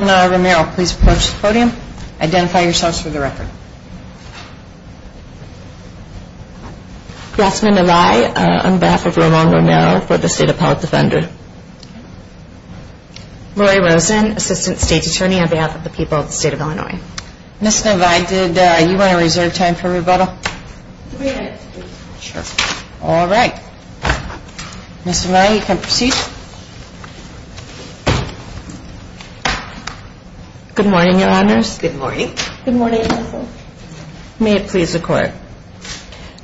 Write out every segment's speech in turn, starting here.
Romero, please approach the podium. Identify yourselves for the record. Grassman Avai, on behalf of Ramon Romero, for the State of Power Defender. Lori Rosen, Assistant State Attorney, on behalf of the people of the State of Illinois. Ms. Navai, did you want to reserve time for rebuttal? All right. Ms. Navai, you can proceed. Good morning, Your Honors. Good morning. Good morning, Counsel. May it please the Court.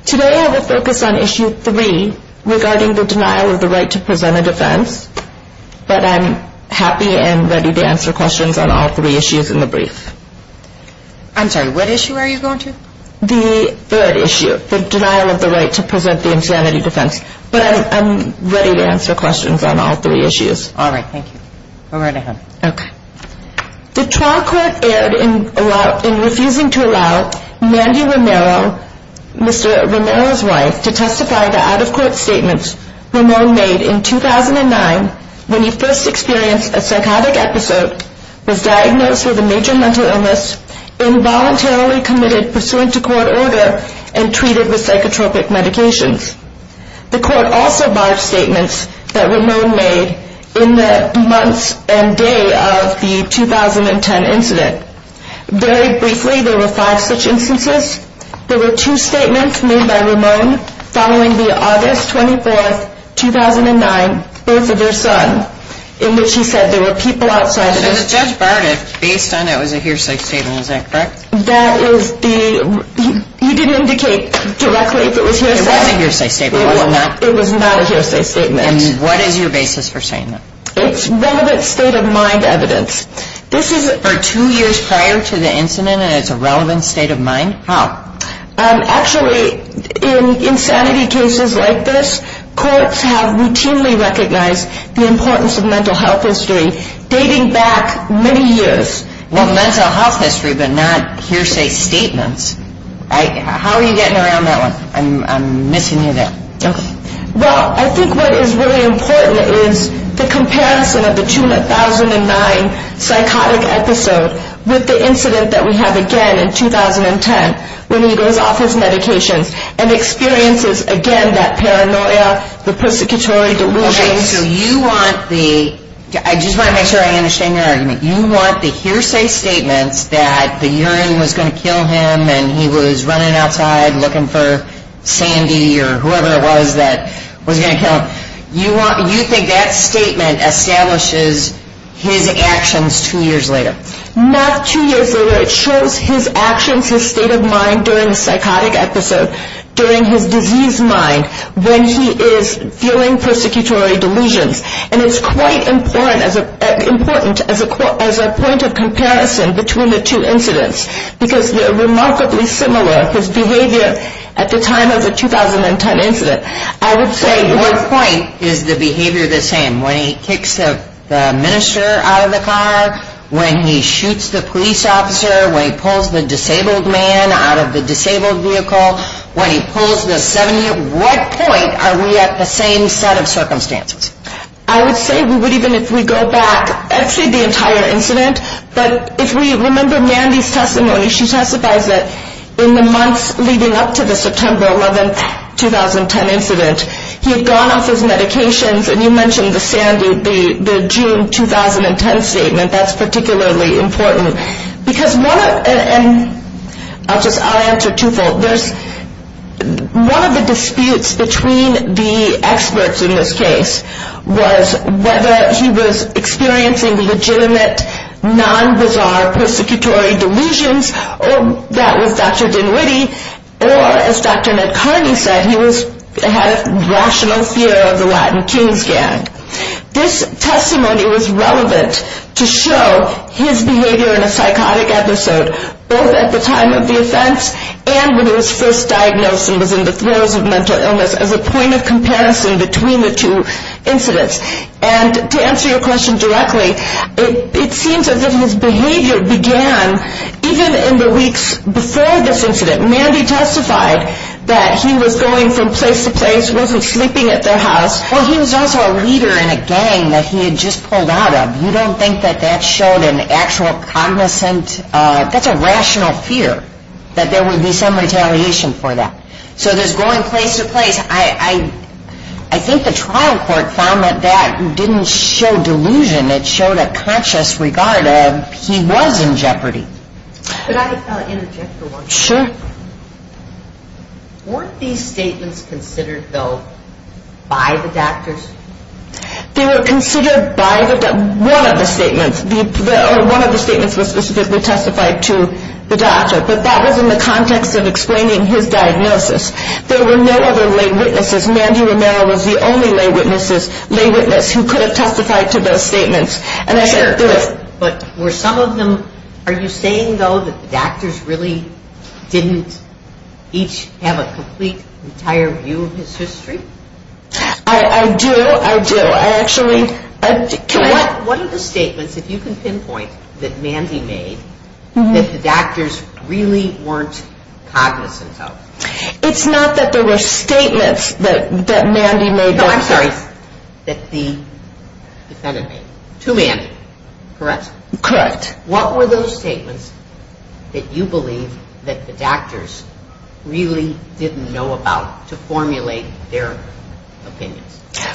Today I will focus on Issue 3 regarding the denial of the right to present a defense, but I'm happy and ready to answer questions on all three issues in the brief. I'm sorry, what issue are you going to? The third issue, the denial of the right to present the insanity defense, but I'm ready to answer questions on all three issues. All right. Thank you. Go right ahead. Okay. The trial court erred in refusing to allow Mandy Romero, Mr. Romero's wife, to testify that out-of-court statements Romero made in 2009 when he first experienced a psychotic episode, was diagnosed with a major mental illness, involuntarily committed pursuant to court order, and treated with psychotropic medications. The court also barred statements that Romero made in the months and day of the 2010 incident. Very briefly, there were five such instances. There were two statements made by Romero following the August 24, 2009, birth of their son, in which he said there were people outside of his... So the judge barred it based on it was a hearsay statement. Is that correct? That is the... He didn't indicate directly if it was hearsay. It was a hearsay statement. It was not a hearsay statement. And what is your basis for saying that? It's relevant state-of-mind evidence. This is... For two years prior to the incident and it's a relevant state-of-mind? How? Actually, in insanity cases like this, courts have routinely recognized the importance of mental health history, dating back many years. Well, mental health history, but not hearsay statements. How are you getting around that one? I'm missing you there. Well, I think what is really important is the comparison of the 2009 psychotic episode with the incident that we have again in 2010 when he goes off his medications and experiences again that paranoia, the persecutory delusions. Okay, so you want the... I just want to make sure I understand your argument. You want the hearsay statements that the urine was going to kill him and he was running outside looking for Sandy or whoever it was that was going to kill him. You think that statement establishes his actions two years later? Not two years later. It shows his actions, his state of mind during the psychotic episode, during his diseased mind when he is feeling persecutory delusions. And it's quite important as a point of comparison between the two incidents because they're remarkably similar. His behavior at the time of the 2010 incident, I would say... when he shoots the police officer, when he pulls the disabled man out of the disabled vehicle, when he pulls the 70... what point are we at the same set of circumstances? I would say we would even if we go back actually the entire incident. But if we remember Mandy's testimony, she testifies that in the months leading up to the September 11, 2010 incident, he had gone off his medications and you mentioned the June 2010 statement. That's particularly important. Because one of... and I'll just... I'll answer twofold. There's... one of the disputes between the experts in this case was whether he was experiencing legitimate, non-bizarre persecutory delusions or that was Dr. Dinwiddie or as Dr. McCartney said, he was... had a rational fear of the Latin Kings gang. This testimony was relevant to show his behavior in a psychotic episode both at the time of the offense and when he was first diagnosed and was in the throes of mental illness as a point of comparison between the two incidents. And to answer your question directly, it seems as if his behavior began even in the weeks before this incident. Mandy testified that he was going from place to place, wasn't sleeping at their house. Well, he was also a leader in a gang that he had just pulled out of. You don't think that that showed an actual cognizant... that's a rational fear that there would be some retaliation for that. So there's going place to place. I think the trial court found that that didn't show delusion. It showed a conscious regard of he was in jeopardy. Could I interject for one moment? Sure. Weren't these statements considered, though, by the doctors? They were considered by one of the statements. One of the statements was specifically testified to the doctor. But that was in the context of explaining his diagnosis. There were no other lay witnesses. Mandy Romero was the only lay witness who could have testified to those statements. But were some of them... are you saying, though, that the doctors really didn't each have a complete, entire view of his history? I do, I do. I actually... What are the statements, if you can pinpoint, that Mandy made that the doctors really weren't cognizant of? It's not that there were statements that Mandy made... No, I'm sorry. That the defendant made. To Mandy. Correct? Correct. What were those statements that you believe that the doctors really didn't know about to formulate their opinions?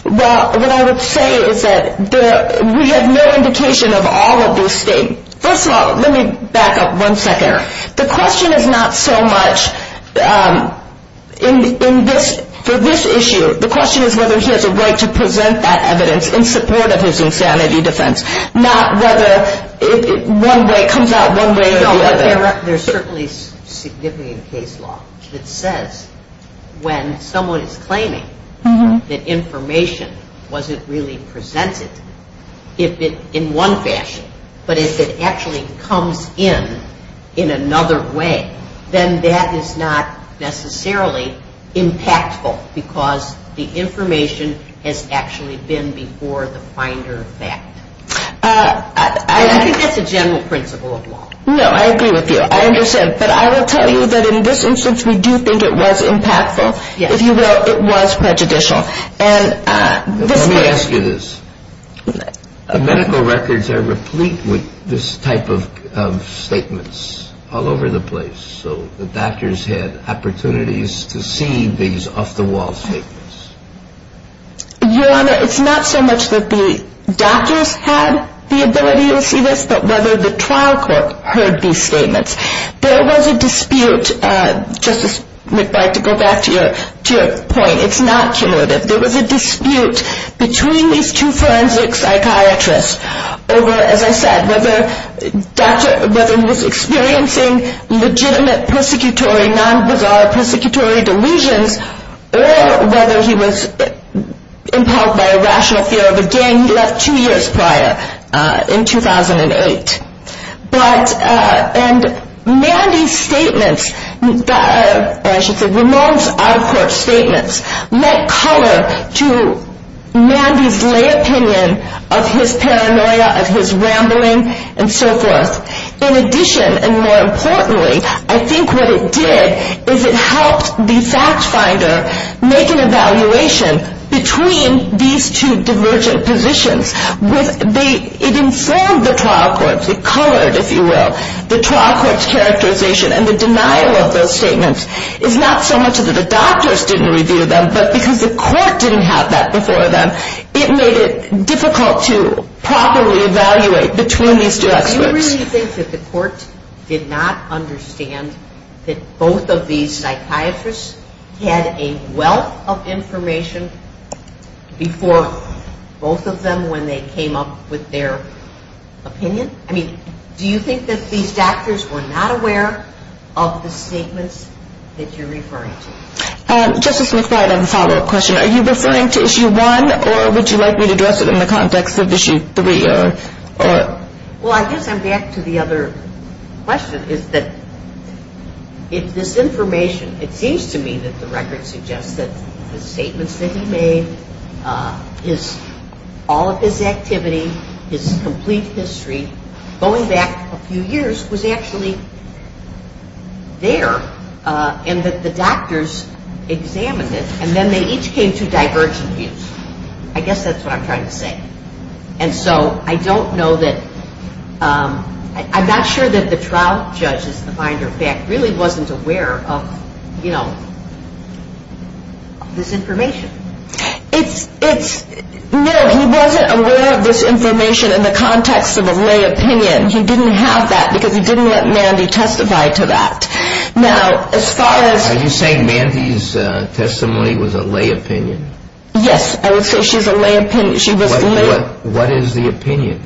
Well, what I would say is that we have no indication of all of those statements. First of all, let me back up one second. The question is not so much for this issue. The question is whether he has a right to present that evidence in support of his insanity defense. Not whether it comes out one way or the other. There's certainly significant case law that says when someone is claiming that information wasn't really presented in one fashion, but if it actually comes in in another way, then that is not necessarily impactful, because the information has actually been before the finder of fact. I think that's a general principle of law. No, I agree with you. I understand. But I will tell you that in this instance, we do think it was impactful. If you will, it was prejudicial. Let me ask you this. The medical records are replete with this type of statements all over the place, so the doctors had opportunities to see these off-the-wall statements. Your Honor, it's not so much that the doctors had the ability to see this, but whether the trial court heard these statements. There was a dispute, Justice McBride, to go back to your point. It's not cumulative. There was a dispute between these two forensic psychiatrists over, as I said, whether he was experiencing legitimate, persecutory, non-bizarre persecutory delusions or whether he was impaled by a rational fear of a gang he left two years prior in 2008. And Mandy's statements, or I should say Ramon's out-of-court statements, lent color to Mandy's lay opinion of his paranoia, of his rambling, and so forth. In addition, and more importantly, I think what it did is it helped the fact finder make an evaluation between these two divergent positions. It informed the trial courts. It colored, if you will, the trial court's characterization. And the denial of those statements is not so much that the doctors didn't review them, but because the court didn't have that before them, it made it difficult to properly evaluate between these two experts. Do you really think that the court did not understand that both of these psychiatrists had a wealth of information before both of them when they came up with their opinion? I mean, do you think that these doctors were not aware of the statements that you're referring to? Justice McBride, I have a follow-up question. Are you referring to Issue 1, or would you like me to address it in the context of Issue 3? Well, I guess I'm back to the other question, is that if this information, it seems to me that the record suggests that the statements that he made, all of his activity, his complete history, going back a few years, was actually there, and that the doctors examined it, and then they each came to divergent views. I guess that's what I'm trying to say. And so I don't know that, I'm not sure that the trial judge, as a matter of fact, really wasn't aware of this information. No, he wasn't aware of this information in the context of a lay opinion. He didn't have that because he didn't let Mandy testify to that. Now, as far as... Are you saying Mandy's testimony was a lay opinion? Yes, I would say she's a lay opinion. What is the opinion?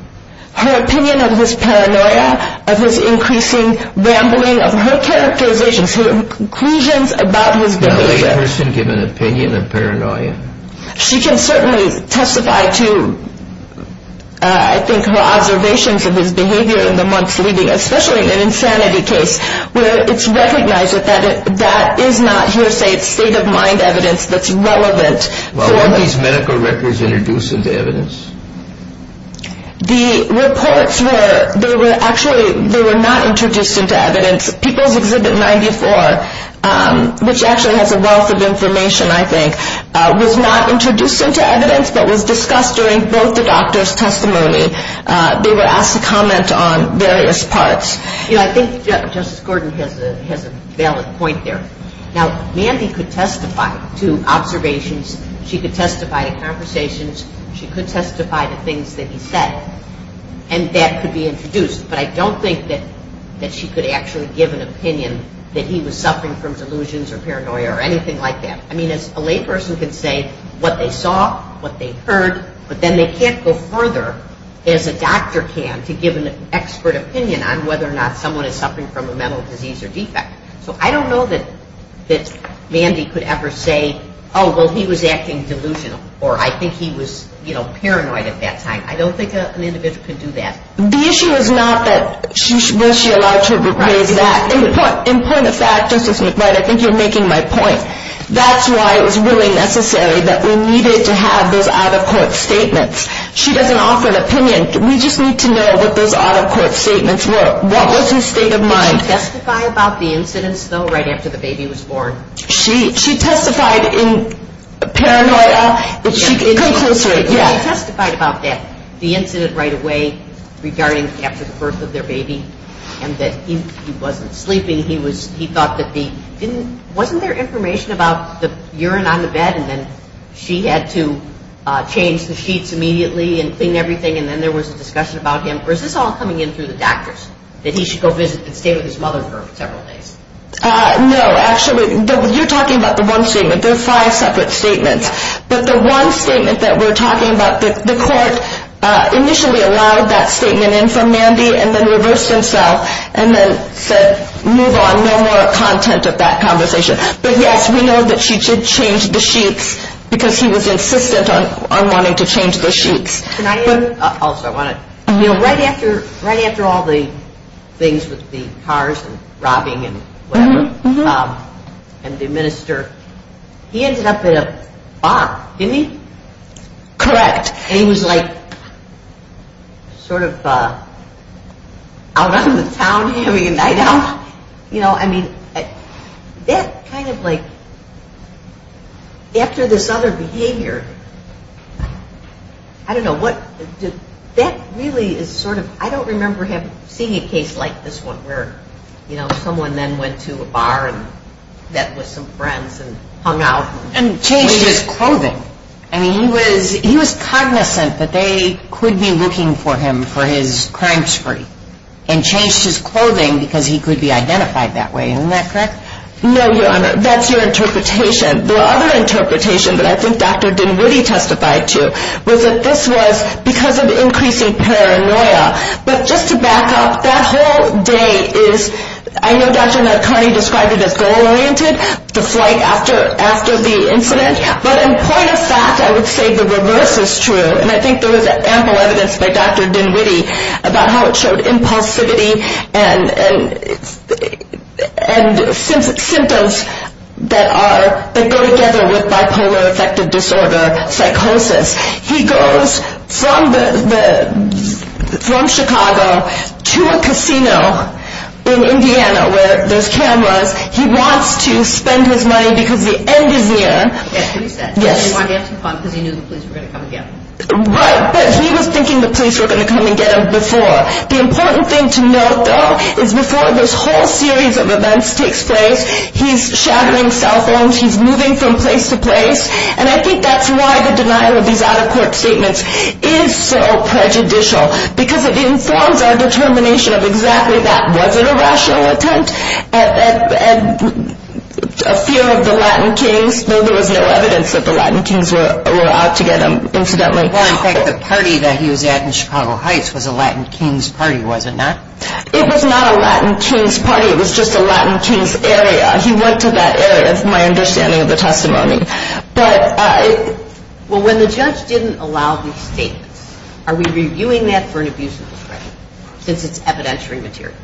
Her opinion of his paranoia, of his increasing rambling, of her characterizations, her conclusions about his behavior. Does a lay person give an opinion of paranoia? She can certainly testify to, I think, her observations of his behavior in the months leading up, especially in an insanity case, where it's recognized that that is not hearsay, it's state-of-mind evidence that's relevant for her. Were Mandy's medical records introduced into evidence? The reports were, they were actually, they were not introduced into evidence. People's Exhibit 94, which actually has a wealth of information, I think, was not introduced into evidence but was discussed during both the doctors' testimony. They were asked to comment on various parts. You know, I think Justice Gordon has a valid point there. Now, Mandy could testify to observations. She could testify to conversations. She could testify to things that he said, and that could be introduced. But I don't think that she could actually give an opinion that he was suffering from delusions or paranoia or anything like that. I mean, a lay person can say what they saw, what they heard, but then they can't go further as a doctor can to give an expert opinion on whether or not someone is suffering from a mental disease or defect. So I don't know that Mandy could ever say, oh, well, he was acting delusional or I think he was, you know, paranoid at that time. I don't think an individual could do that. The issue is not that was she allowed to raise that. In point of fact, Justice McBride, I think you're making my point. That's why it was really necessary that we needed to have those out-of-court statements. She doesn't offer an opinion. We just need to know what those out-of-court statements were. What was his state of mind? Did she testify about the incidents, though, right after the baby was born? She testified in paranoia. Go closer. Yeah. She testified about that, the incident right away regarding after the birth of their baby and that he wasn't sleeping. He thought that he didn't – wasn't there information about the urine on the bed and then she had to change the sheets immediately and clean everything and then there was a discussion about him? Or is this all coming in through the doctors, that he should go visit and stay with his mother for several days? No. Actually, you're talking about the one statement. There are five separate statements. But the one statement that we're talking about, the court initially allowed that statement in from Mandy and then reversed himself and then said move on, no more content of that conversation. But, yes, we know that she did change the sheets because he was insistent on wanting to change the sheets. Also, I want to – you know, right after all the things with the cars and robbing and whatever and the minister, he ended up in a bar, didn't he? Correct. And he was like sort of out on the town having a night out. You know, I mean, that kind of like – after this other behavior, I don't know what – that really is sort of – I don't remember seeing a case like this one where, you know, someone then went to a bar and met with some friends and hung out. And changed his clothing. I mean, he was cognizant that they could be looking for him for his crime spree and changed his clothing because he could be identified that way. Isn't that correct? No, Your Honor. That's your interpretation. The other interpretation that I think Dr. Dinwiddie testified to was that this was because of increasing paranoia. But just to back up, that whole day is – I know Dr. Nadkarni described it as goal-oriented, the flight after the incident. But in point of fact, I would say the reverse is true. And I think there was ample evidence by Dr. Dinwiddie about how it showed impulsivity and symptoms that are – that go together with bipolar affective disorder, psychosis. He goes from Chicago to a casino in Indiana where there's cameras. He wants to spend his money because the end is near. Yes, we said. Yes. He wanted to have some fun because he knew the police were going to come and get him. Right, but he was thinking the police were going to come and get him before. The important thing to note, though, is before this whole series of events takes place, he's shattering cell phones. He's moving from place to place. And I think that's why the denial of these out-of-court statements is so prejudicial because it informs our determination of exactly that. Was it a rational attempt at fear of the Latin kings? Well, there was no evidence that the Latin kings were out to get him, incidentally. Well, in fact, the party that he was at in Chicago Heights was a Latin kings party, was it not? It was not a Latin kings party. It was just a Latin kings area. He went to that area is my understanding of the testimony. Well, when the judge didn't allow these statements, are we reviewing that for an abuse of discretion since it's evidentiary material?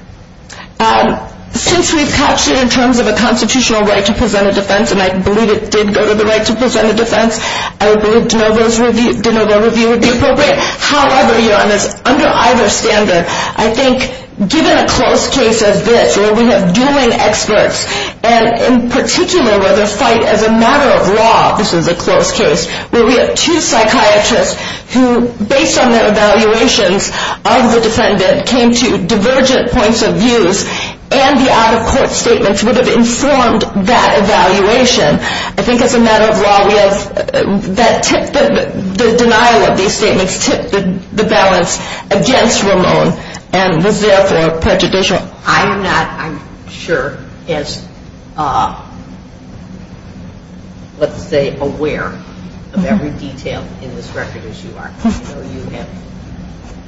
Since we've captured it in terms of a constitutional right to present a defense, and I believe it did go to the right to present a defense, I would believe de Novo's review would be appropriate. However, under either standard, I think given a close case as this, where we have dueling experts and in particular where they fight as a matter of law, this is a close case, where we have two psychiatrists who, based on their evaluations of the defendant, came to divergent points of views, and the out-of-court statements would have informed that evaluation. I think as a matter of law, the denial of these statements tipped the balance against Ramon and was therefore prejudicial. I am not, I'm sure, as, let's say, aware of every detail in this record as you are. I know you have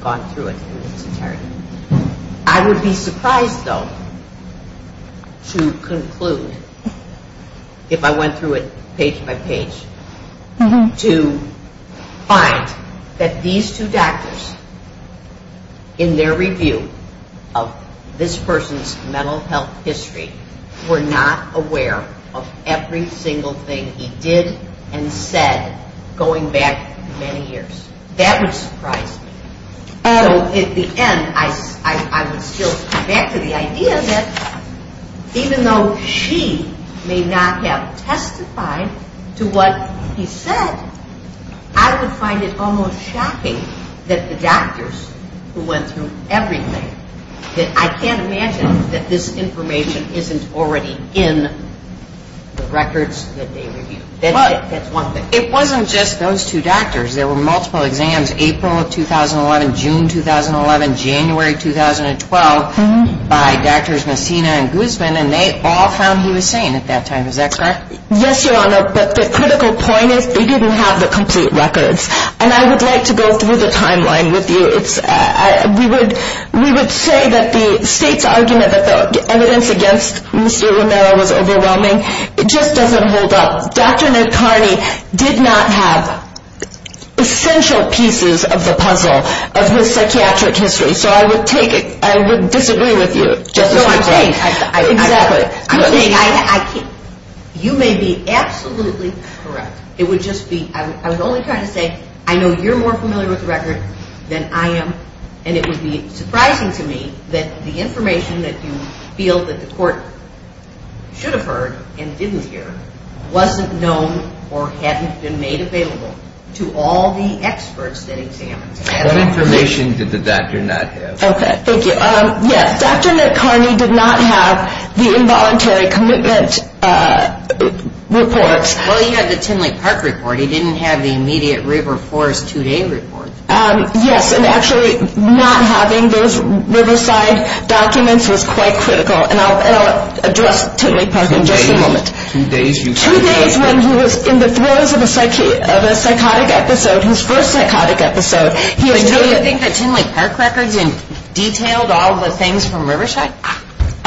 gone through it. I would be surprised, though, to conclude, if I went through it page by page, to find that these two doctors, in their review of this person's mental health history, were not aware of every single thing he did and said going back many years. That would surprise me. At the end, I would still come back to the idea that even though she may not have testified to what he said, I would find it almost shocking that the doctors who went through everything, I can't imagine that this information isn't already in the records that they reviewed. That's one thing. It wasn't just those two doctors. There were multiple exams, April of 2011, June 2011, January 2012, by Drs. Messina and Guzman, and they all found he was sane at that time. Is that correct? Yes, Your Honor, but the critical point is they didn't have the complete records. And I would like to go through the timeline with you. We would say that the state's argument that the evidence against Mr. Romero was overwhelming, it just doesn't hold up. Dr. Ned Kearney did not have essential pieces of the puzzle of his psychiatric history, so I would disagree with you. No, I'm saying, you may be absolutely correct. It would just be, I would only try to say, I know you're more familiar with the record than I am, and it would be surprising to me that the information that you feel that the court should have heard and didn't hear wasn't known or hadn't been made available to all the experts that examined him. What information did the doctor not have? Okay, thank you. Yes, Dr. Ned Kearney did not have the involuntary commitment reports. Well, he had the Tinley Park report. He didn't have the immediate River Forest two-day report. Yes, and actually not having those Riverside documents was quite critical, and I'll address Tinley Park in just a moment. Two days when he was in the throes of a psychotic episode, his first psychotic episode. Do you think the Tinley Park records detailed all the things from Riverside?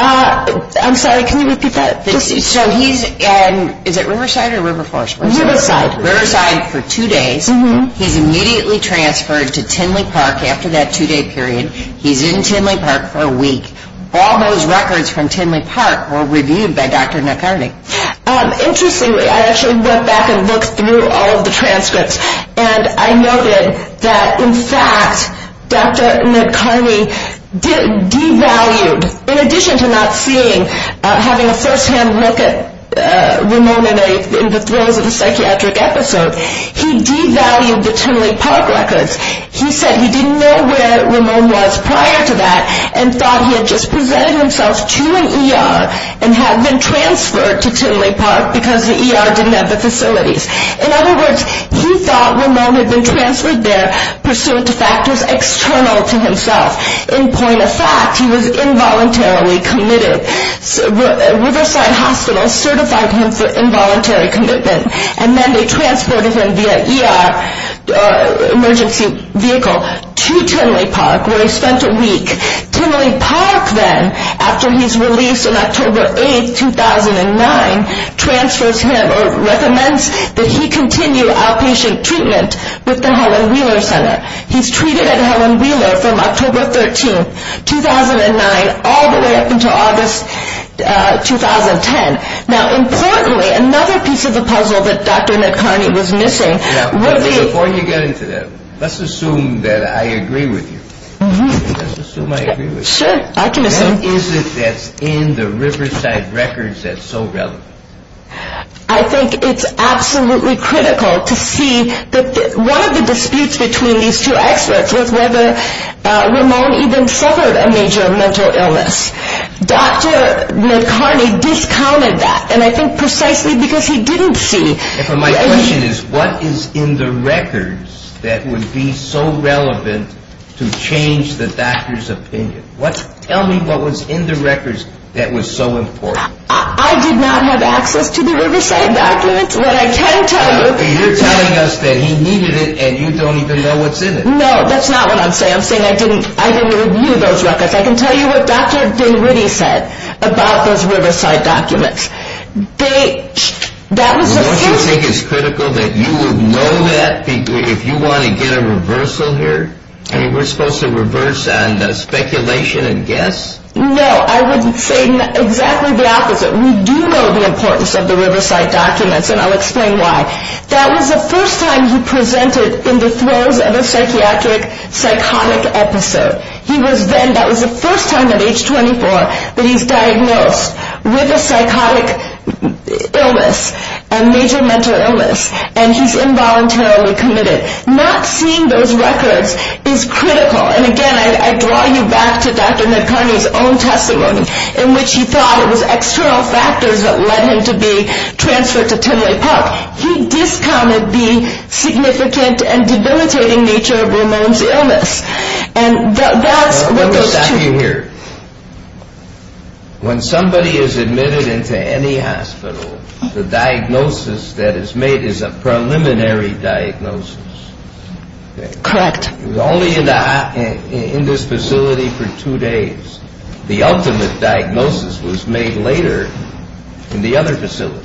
I'm sorry, can you repeat that? So he's in, is it Riverside or River Forest? Riverside. Riverside for two days. He's immediately transferred to Tinley Park after that two-day period. He's in Tinley Park for a week. All those records from Tinley Park were reviewed by Dr. Ned Kearney. Interestingly, I actually went back and looked through all of the transcripts, and I noted that in fact Dr. Ned Kearney devalued, in addition to not seeing, having a firsthand look at Ramon in the throes of a psychiatric episode, he devalued the Tinley Park records. He said he didn't know where Ramon was prior to that and thought he had just presented himself to an ER and had been transferred to Tinley Park because the ER didn't have the facilities. In other words, he thought Ramon had been transferred there pursuant to factors external to himself. In point of fact, he was involuntarily committed. Riverside Hospital certified him for involuntary commitment, and then they transported him via ER emergency vehicle to Tinley Park where he spent a week. Tinley Park then, after he's released on October 8, 2009, transfers him or recommends that he continue outpatient treatment with the Helen Wheeler Center. He's treated at Helen Wheeler from October 13, 2009, all the way up until August 2010. Now, importantly, another piece of the puzzle that Dr. Ned Kearney was missing was the- Before you get into that, let's assume that I agree with you. Let's assume I agree with you. Sure, I can assume. What is it that's in the Riverside records that's so relevant? I think it's absolutely critical to see that one of the disputes between these two experts was whether Ramon even suffered a major mental illness. Dr. Ned Kearney discounted that, and I think precisely because he didn't see- My question is, what is in the records that would be so relevant to change the doctor's opinion? Tell me what was in the records that was so important. I did not have access to the Riverside documents. What I can tell you- You're telling us that he needed it, and you don't even know what's in it. No, that's not what I'm saying. I'm saying I didn't review those records. I can tell you what Dr. Dinwiddie said about those Riverside documents. They- that was- Well, don't you think it's critical that you would know that if you want to get a reversal here? I mean, we're supposed to reverse on the speculation and guess? No, I would say exactly the opposite. We do know the importance of the Riverside documents, and I'll explain why. That was the first time he presented in the throes of a psychiatric psychotic episode. He was then- that was the first time at age 24 that he's diagnosed with a psychotic illness, a major mental illness, and he's involuntarily committed. Not seeing those records is critical. And, again, I draw you back to Dr. McCartney's own testimony, in which he thought it was external factors that led him to be transferred to Timberlake Park. He discounted the significant and debilitating nature of Ramon's illness. And that's what those two- Let me stop you here. When somebody is admitted into any hospital, the diagnosis that is made is a preliminary diagnosis. Correct. He was only in this facility for two days. The ultimate diagnosis was made later in the other facility.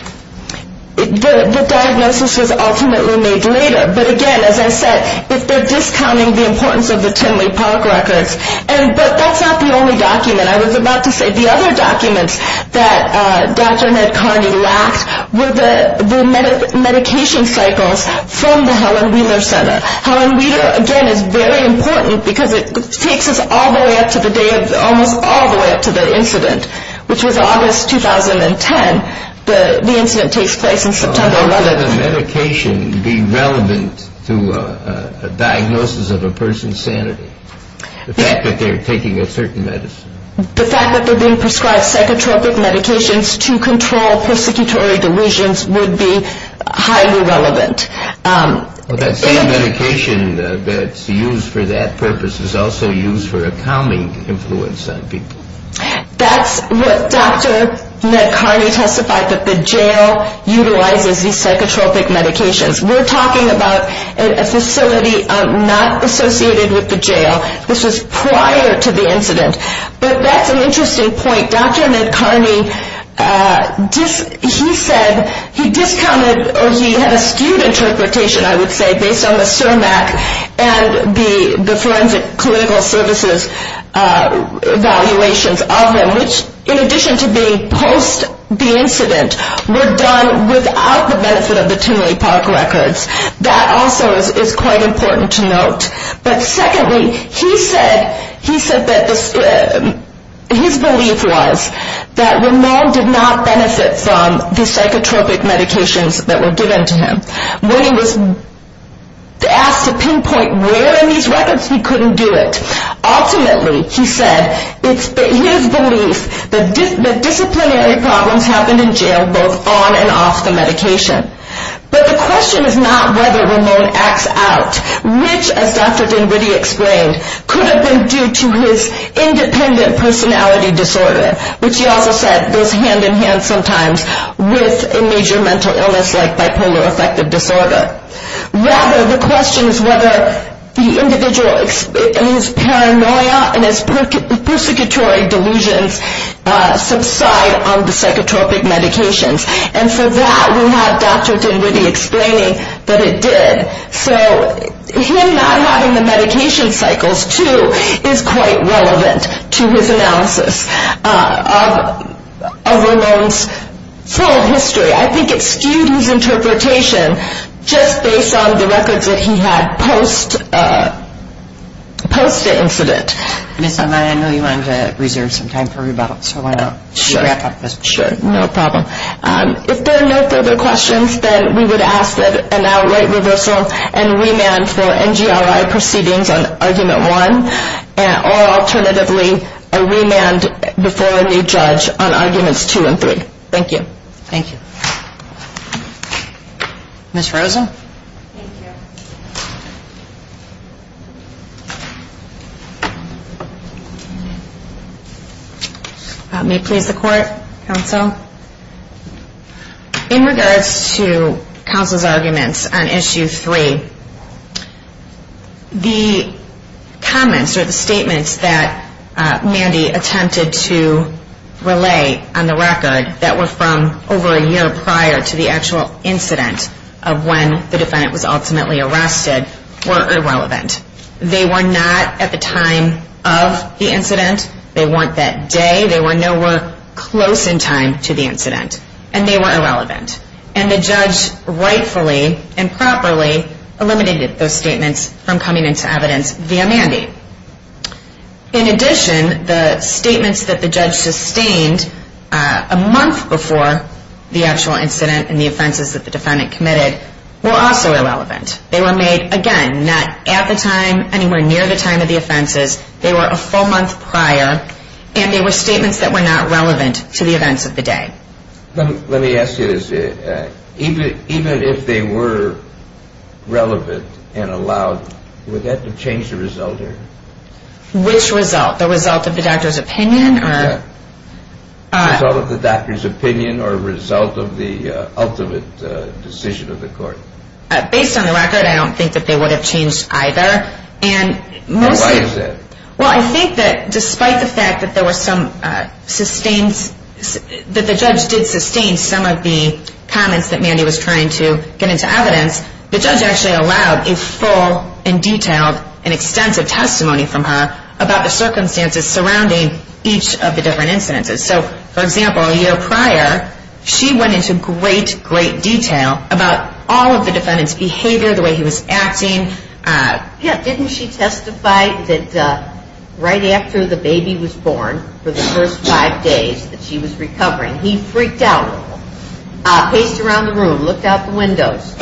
The diagnosis was ultimately made later, but, again, as I said, if they're discounting the importance of the Timberlake Park records, but that's not the only document. I was about to say the other documents that Dr. Ned Carney lacked were the medication cycles from the Helen Wheeler Center. Helen Wheeler, again, is very important because it takes us almost all the way up to the incident, which was August 2010. The incident takes place in September 11th. Would the medication be relevant to a diagnosis of a person's sanity, the fact that they're taking a certain medicine? The fact that they're being prescribed psychotropic medications to control persecutory delusions would be highly relevant. That same medication that's used for that purpose is also used for a calming influence on people. That's what Dr. Ned Carney testified, that the jail utilizes these psychotropic medications. We're talking about a facility not associated with the jail. This was prior to the incident. But that's an interesting point. Dr. Ned Carney, he said he discounted or he had a skewed interpretation, I would say, based on the CIRMAC and the forensic clinical services evaluations of him, which in addition to being post the incident, were done without the benefit of the Timberlake Park records. But secondly, he said that his belief was that Ramon did not benefit from the psychotropic medications that were given to him. When he was asked to pinpoint where in these records he couldn't do it, ultimately he said it's his belief that disciplinary problems happened in jail both on and off the medication. But the question is not whether Ramon acts out. Which, as Dr. Dinwiddie explained, could have been due to his independent personality disorder, which he also said goes hand in hand sometimes with a major mental illness like bipolar affective disorder. Rather, the question is whether the individual, his paranoia and his persecutory delusions subside on the psychotropic medications. And for that, we have Dr. Dinwiddie explaining that it did. So him not having the medication cycles, too, is quite relevant to his analysis of Ramon's full history. I think it skewed his interpretation just based on the records that he had post the incident. Ms. Amaya, I know you wanted to reserve some time for rebuttal, so why not wrap up this? Sure, no problem. If there are no further questions, then we would ask that an outright reversal and remand for NGRI proceedings on Argument 1, or alternatively a remand before a new judge on Arguments 2 and 3. Thank you. Thank you. Ms. Rosa? Thank you. May it please the Court, Counsel? In regards to Counsel's arguments on Issue 3, the comments or the statements that Mandy attempted to relay on the record that were from over a year prior to the actual incident of when the defendant was ultimately arrested were irrelevant. They were not at the time of the incident. They weren't that day. They were nowhere close in time to the incident, and they were irrelevant. And the judge rightfully and properly eliminated those statements from coming into evidence via Mandy. In addition, the statements that the judge sustained a month before the actual incident and the offenses that the defendant committed were also irrelevant. They were made, again, not at the time, anywhere near the time of the offenses. They were a full month prior, and they were statements that were not relevant to the events of the day. Let me ask you this. Even if they were relevant and allowed, would that have changed the result here? Which result? The result of the doctor's opinion? The result of the doctor's opinion or the result of the ultimate decision of the Court? Based on the record, I don't think that they would have changed either. Why is that? Well, I think that despite the fact that the judge did sustain some of the comments that Mandy was trying to get into evidence, the judge actually allowed a full and detailed and extensive testimony from her about the circumstances surrounding each of the different incidences. So, for example, a year prior, she went into great, great detail about all of the defendant's behavior, the way he was acting. Yeah, didn't she testify that right after the baby was born, for the first five days that she was recovering, he freaked out a little, paced around the room, looked out the windows.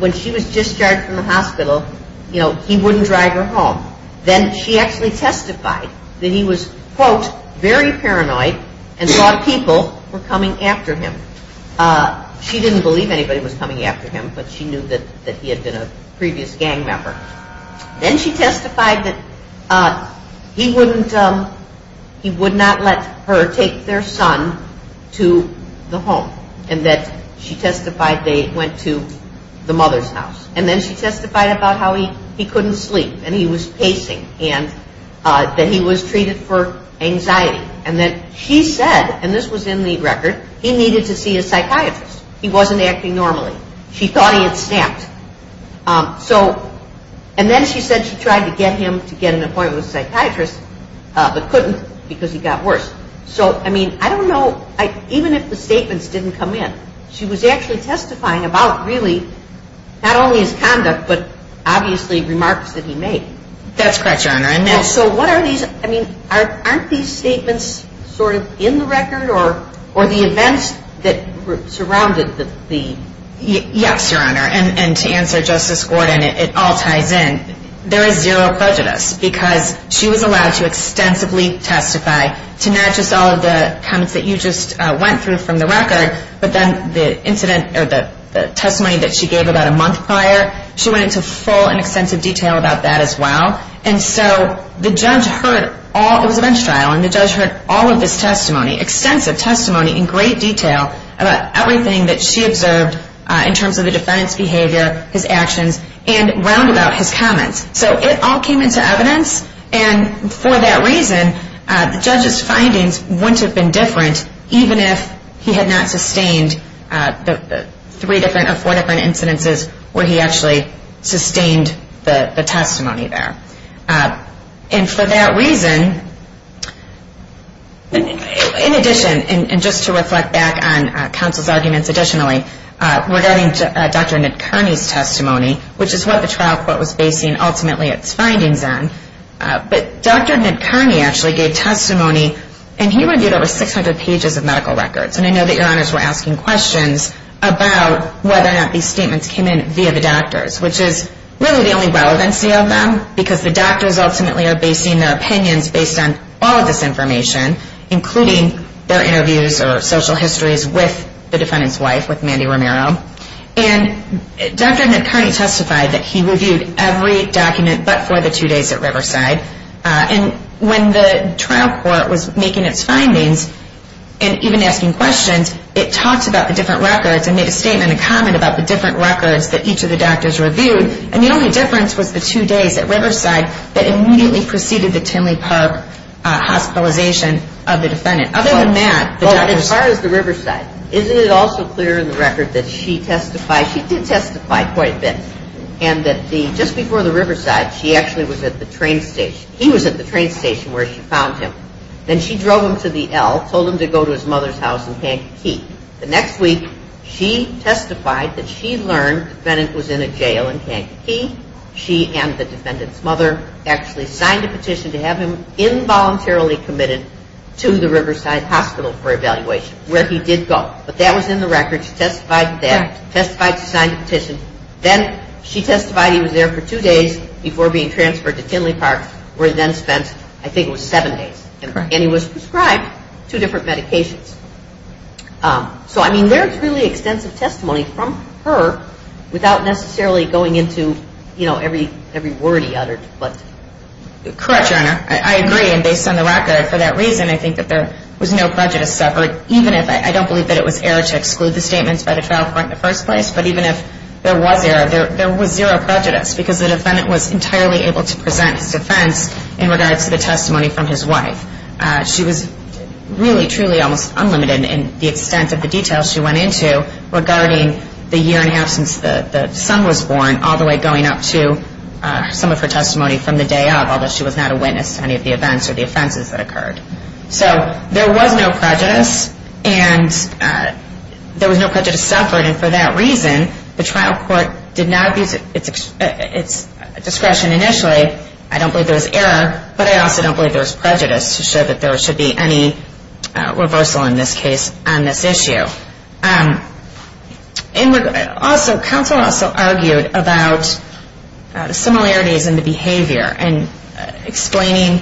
When she was discharged from the hospital, you know, he wouldn't drive her home. Then she actually testified that he was, quote, very paranoid and thought people were coming after him. She didn't believe anybody was coming after him, but she knew that he had been a previous gang member. Then she testified that he would not let her take their son to the home, and that she testified they went to the mother's house. And then she testified about how he couldn't sleep, and he was pacing, and that he was treated for anxiety. And then she said, and this was in the record, he needed to see a psychiatrist. He wasn't acting normally. She thought he had snapped. So, and then she said she tried to get him to get an appointment with a psychiatrist, but couldn't because he got worse. So, I mean, I don't know, even if the statements didn't come in, she was actually testifying about really not only his conduct, but obviously remarks that he made. That's correct, Your Honor. And so what are these, I mean, aren't these statements sort of in the record, or the events that surrounded the? Yes, Your Honor, and to answer Justice Gordon, it all ties in. There is zero prejudice because she was allowed to extensively testify to not just all of the comments that you just went through from the record, but then the incident, or the testimony that she gave about a month prior, she went into full and extensive detail about that as well. And so the judge heard all, it was a bench trial, and the judge heard all of his testimony, extensive testimony in great detail about everything that she observed in terms of the defendant's behavior, his actions, and round about his comments. So it all came into evidence, and for that reason, the judge's findings wouldn't have been different, even if he had not sustained the three different or four different incidences where he actually sustained the testimony there. And for that reason, in addition, and just to reflect back on counsel's arguments additionally, regarding Dr. Nidkerny's testimony, which is what the trial court was basing ultimately its findings on, but Dr. Nidkerny actually gave testimony, and he reviewed over 600 pages of medical records, and I know that your honors were asking questions about whether or not these statements came in via the doctors, which is really the only relevancy of them, because the doctors ultimately are basing their opinions based on all of this information, including their interviews or social histories with the defendant's wife, with Mandy Romero. And Dr. Nidkerny testified that he reviewed every document but for the two days at Riverside, and when the trial court was making its findings and even asking questions, it talked about the different records and made a statement and comment about the different records that each of the doctors reviewed, and the only difference was the two days at Riverside that immediately preceded the Tinley Park hospitalization of the defendant. Other than that, as far as the Riverside, isn't it also clear in the record that she testified? She did testify quite a bit, and that just before the Riverside, she actually was at the train station. He was at the train station where she found him. Then she drove him to the L, told him to go to his mother's house in Kankakee. The next week, she testified that she learned the defendant was in a jail in Kankakee. She and the defendant's mother actually signed a petition to have him involuntarily committed to the Riverside hospital for evaluation, where he did go. But that was in the record. She testified that, testified she signed the petition. Then she testified he was there for two days before being transferred to Tinley Park, where he then spent, I think it was seven days. And he was prescribed two different medications. So, I mean, there's really extensive testimony from her, without necessarily going into, you know, every word he uttered. Correct, Your Honor. I agree, and based on the record, for that reason, I think that there was no prejudice suffered, even if I don't believe that it was error to exclude the statements by the trial court in the first place. But even if there was error, there was zero prejudice, because the defendant was entirely able to present his defense in regards to the testimony from his wife. She was really, truly almost unlimited in the extent of the details she went into regarding the year and a half since the son was born, all the way going up to some of her testimony from the day of, although she was not a witness to any of the events or the offenses that occurred. So there was no prejudice, and there was no prejudice suffered. And for that reason, the trial court did not abuse its discretion initially. I don't believe there was error, but I also don't believe there was prejudice to show that there should be any reversal in this case on this issue. Also, counsel also argued about similarities in the behavior and explaining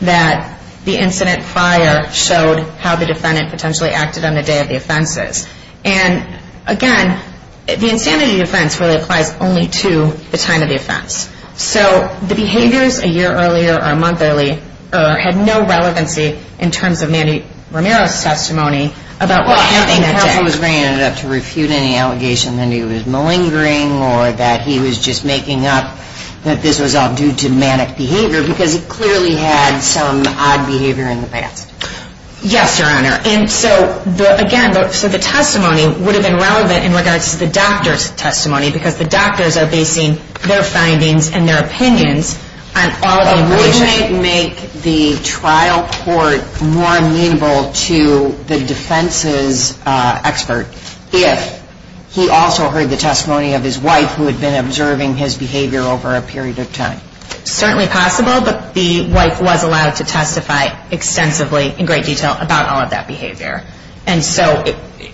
that the incident prior showed how the defendant potentially acted on the day of the offenses. And, again, the insanity defense really applies only to the time of the offense. So the behaviors a year earlier or a month earlier had no relevancy in terms of Mandy Romero's testimony about what happened that day. Well, I don't think counsel was bringing it up to refute any allegation that he was malingering or that he was just making up that this was all due to manic behavior, because he clearly had some odd behavior in the past. Yes, Your Honor. And so, again, the testimony would have been relevant in regards to the doctor's testimony, because the doctors are basing their findings and their opinions on all of the information. But wouldn't it make the trial court more amenable to the defense's expert if he also heard the testimony of his wife, who had been observing his behavior over a period of time? Certainly possible, but the wife was allowed to testify extensively in great detail about all of that behavior. And so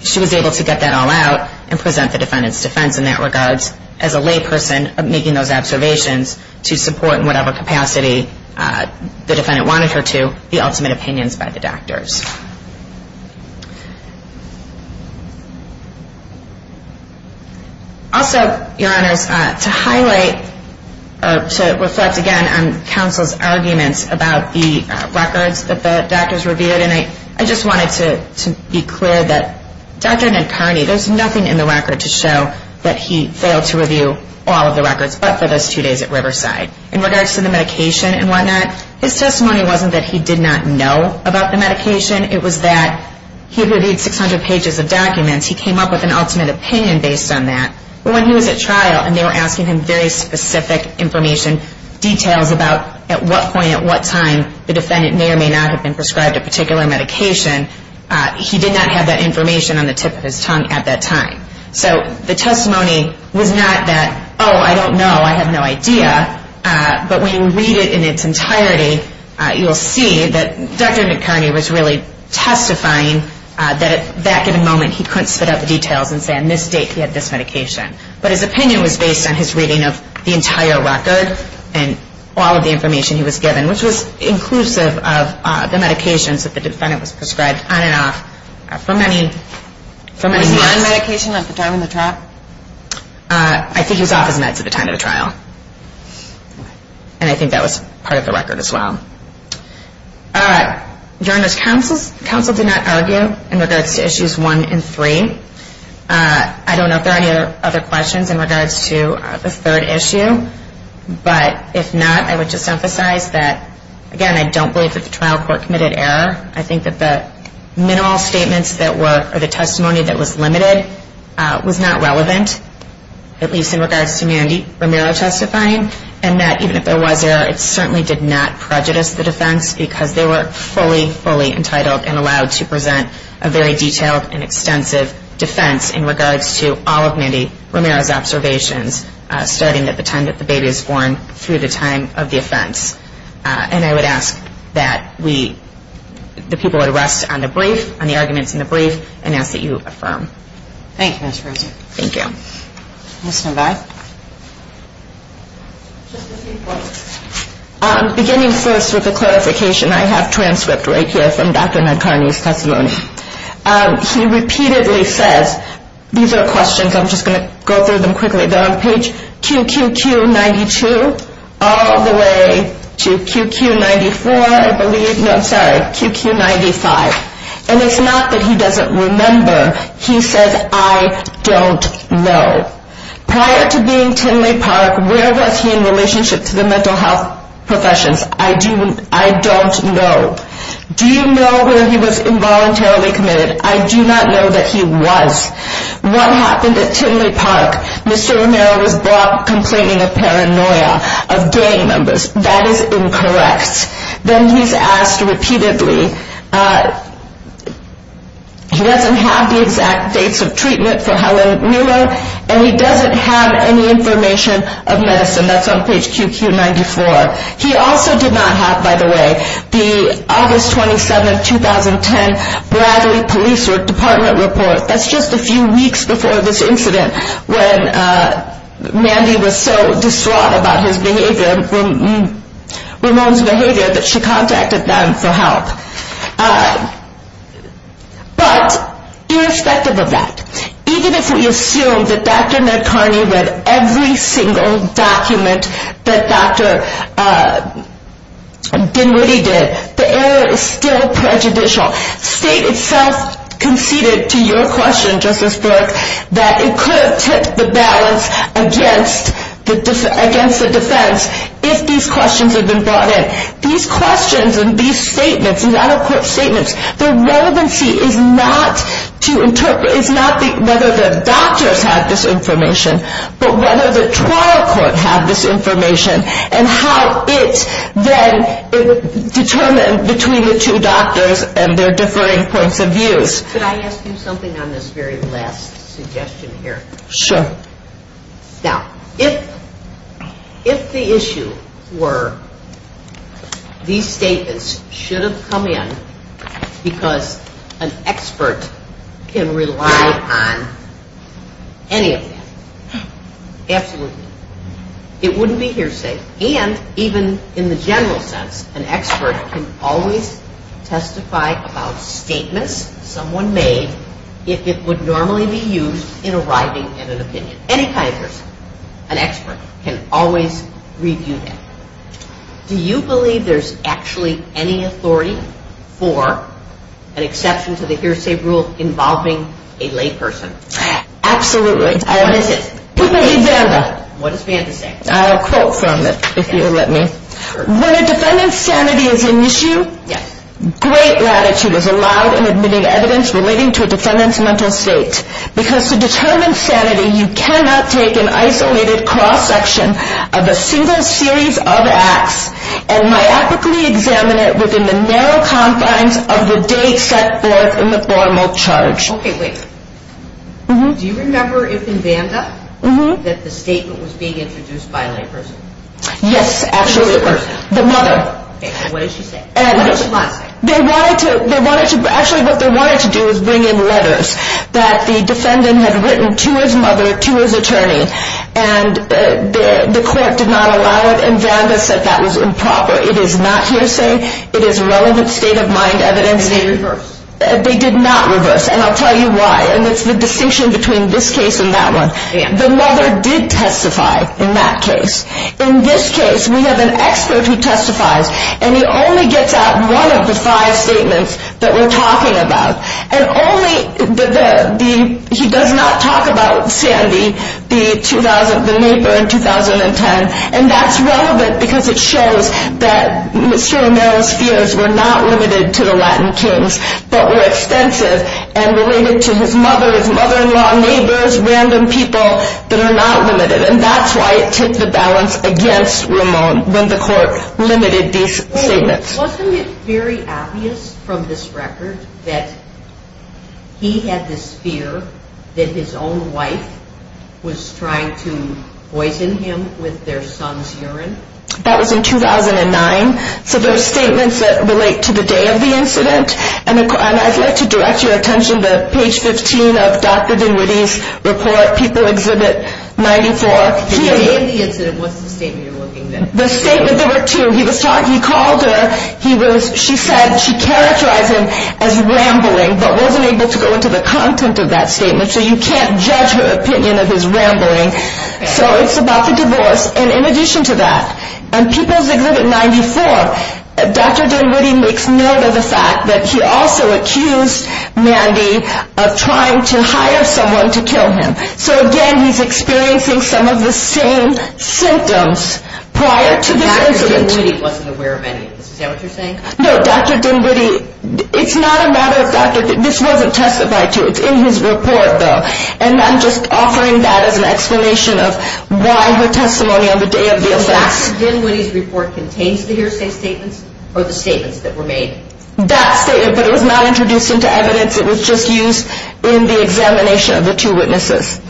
she was able to get that all out and present the defendant's defense in that regard as a layperson making those observations to support, in whatever capacity the defendant wanted her to, the ultimate opinions by the doctors. Also, Your Honors, to highlight, to reflect again on counsel's arguments about the records that the doctors reviewed, and I just wanted to be clear that Dr. Nankarney, there's nothing in the record to show that he failed to review all of the records but for those two days at Riverside. In regards to the medication and whatnot, his testimony wasn't that he did not know about the medication. It was that he had reviewed 600 pages of documents. He came up with an ultimate opinion based on that. But when he was at trial and they were asking him very specific information, details about at what point, at what time the defendant may or may not have been prescribed a particular medication, he did not have that information on the tip of his tongue at that time. So the testimony was not that, oh, I don't know, I have no idea. But when you read it in its entirety, you'll see that Dr. Nankarney was really testifying that at that given moment he couldn't spit out the details and say on this date he had this medication. But his opinion was based on his reading of the entire record and all of the information he was given, which was inclusive of the medications that the defendant was prescribed on and off for many months. Was he on medication at the time of the trial? I think he was off his meds at the time of the trial. And I think that was part of the record as well. Journalist counsel did not argue in regards to issues one and three. I don't know if there are any other questions in regards to the third issue. But if not, I would just emphasize that, again, I don't believe that the trial court committed error. I think that the minimal statements that were, or the testimony that was limited was not relevant, at least in regards to Mandy Romero testifying, and that even if there was error, it certainly did not prejudice the defense because they were fully, fully entitled and allowed to present a very detailed and extensive defense in regards to all of Mandy Romero's observations, starting at the time that the baby was born through the time of the offense. And I would ask that the people would rest on the brief, on the arguments in the brief, and ask that you affirm. Thank you, Ms. Rosen. Thank you. Ms. Navarro. Just a few points. Beginning first with a clarification. I have transcript right here from Dr. Nadkarni's testimony. He repeatedly says, these are questions, I'm just going to go through them quickly. They're on page QQQ92 all the way to QQ94, I believe. No, I'm sorry, QQ95. And it's not that he doesn't remember. He says, I don't know. Prior to being Tinley Park, where was he in relationship to the mental health professions? I don't know. Do you know where he was involuntarily committed? I do not know that he was. What happened at Tinley Park? Mr. Romero was brought complaining of paranoia, of gang members. That is incorrect. Then he's asked repeatedly, he doesn't have the exact dates of treatment for Helen Miller, and he doesn't have any information of medicine. That's on page QQ94. He also did not have, by the way, the August 27, 2010 Bradley Police Department report. That's just a few weeks before this incident, when Mandy was so distraught about his behavior, Ramon's behavior, that she contacted them for help. But irrespective of that, even if we assume that Dr. Ned Kearney read every single document that Dr. Dinwiddie did, the error is still prejudicial. State itself conceded to your question, Justice Burke, that it could have tipped the balance against the defense if these questions had been brought in. These questions and these statements, these out-of-court statements, their relevancy is not whether the doctors had this information, but whether the trial court had this information and how it then determined between the two doctors and their differing points of views. Could I ask you something on this very last suggestion here? Sure. Now, if the issue were these statements should have come in because an expert can rely on any of them, absolutely. It wouldn't be hearsay, and even in the general sense, an expert can always testify about statements someone made if it would normally be used in arriving at an opinion. Any kind of person, an expert, can always review that. Do you believe there's actually any authority for an exception to the hearsay rule involving a layperson? Absolutely. What is it? What does Vanda say? I'll quote from it if you'll let me. When a defendant's sanity is an issue, great gratitude is allowed in admitting evidence relating to a defendant's mental state because to determine sanity you cannot take an isolated cross-section of a single series of acts and myopically examine it within the narrow confines of the date set forth in the formal charge. Okay, wait. Do you remember if in Vanda that the statement was being introduced by a layperson? Yes, actually, the mother. What did she say? What did she not say? They wanted to, actually what they wanted to do was bring in letters that the defendant had written to his mother, to his attorney, and the court did not allow it, and Vanda said that was improper. It is not hearsay. It is relevant state-of-mind evidence. They did reverse. They did not reverse, and I'll tell you why, and it's the distinction between this case and that one. The mother did testify in that case. In this case, we have an expert who testifies, and he only gets out one of the five statements that we're talking about, and he does not talk about Sandy, the neighbor in 2010, and that's relevant because it shows that Mr. O'Meara's fears were not limited to the Latin kings but were extensive and related to his mother, his mother-in-law, neighbors, random people that are not limited, and that's why it tipped the balance against Ramon when the court limited these statements. Wasn't it very obvious from this record that he had this fear that his own wife was trying to poison him with their son's urine? That was in 2009, so there are statements that relate to the day of the incident and I'd like to direct your attention to page 15 of Dr. Dinwiddie's report, People's Exhibit 94. The day of the incident, what's the statement you're looking at? The statement there were two. He called her. She said she characterized him as rambling but wasn't able to go into the content of that statement, so you can't judge her opinion of his rambling. So it's about the divorce, and in addition to that, and People's Exhibit 94, Dr. Dinwiddie makes note of the fact that he also accused Mandy of trying to hire someone to kill him. So again, he's experiencing some of the same symptoms prior to this incident. Dr. Dinwiddie wasn't aware of any of this. Is that what you're saying? No, Dr. Dinwiddie, it's not a matter of Dr. Dinwiddie. This wasn't testified to. It's in his report, though, and I'm just offering that as an explanation of why her testimony on the day of the event. So Dr. Dinwiddie's report contains the hearsay statements or the statements that were made? That statement, but it was not introduced into evidence. It was just used in the examination of the two witnesses.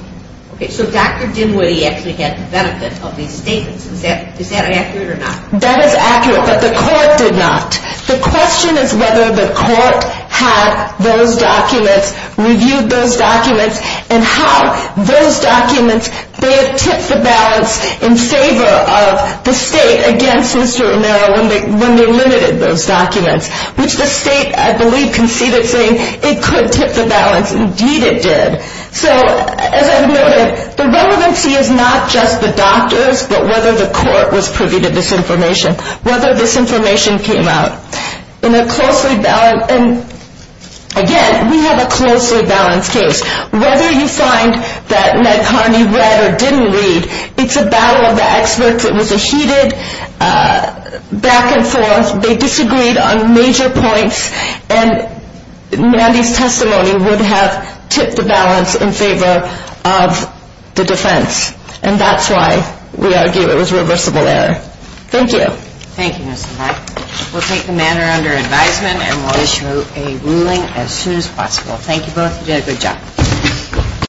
Okay, so Dr. Dinwiddie actually had the benefit of these statements. Is that accurate or not? That is accurate, but the court did not. The question is whether the court had those documents, reviewed those documents, and how those documents may have tipped the balance in favor of the state against Mr. Romero when they limited those documents, which the state, I believe, conceded saying it could tip the balance. Indeed it did. So as I've noted, the relevancy is not just the doctors, but whether the court was privy to this information, whether this information came out. In a closely balanced, and again, we have a closely balanced case. Whether you find that Ned Carney read or didn't read, it's a battle of the experts. It was a heated back and forth. They disagreed on major points, and Mandy's testimony would have tipped the balance in favor of the defense, and that's why we argue it was reversible error. Thank you. Thank you, Ms. LeBlanc. We'll take the matter under advisement, and we'll issue a ruling as soon as possible. Thank you both. You did a good job.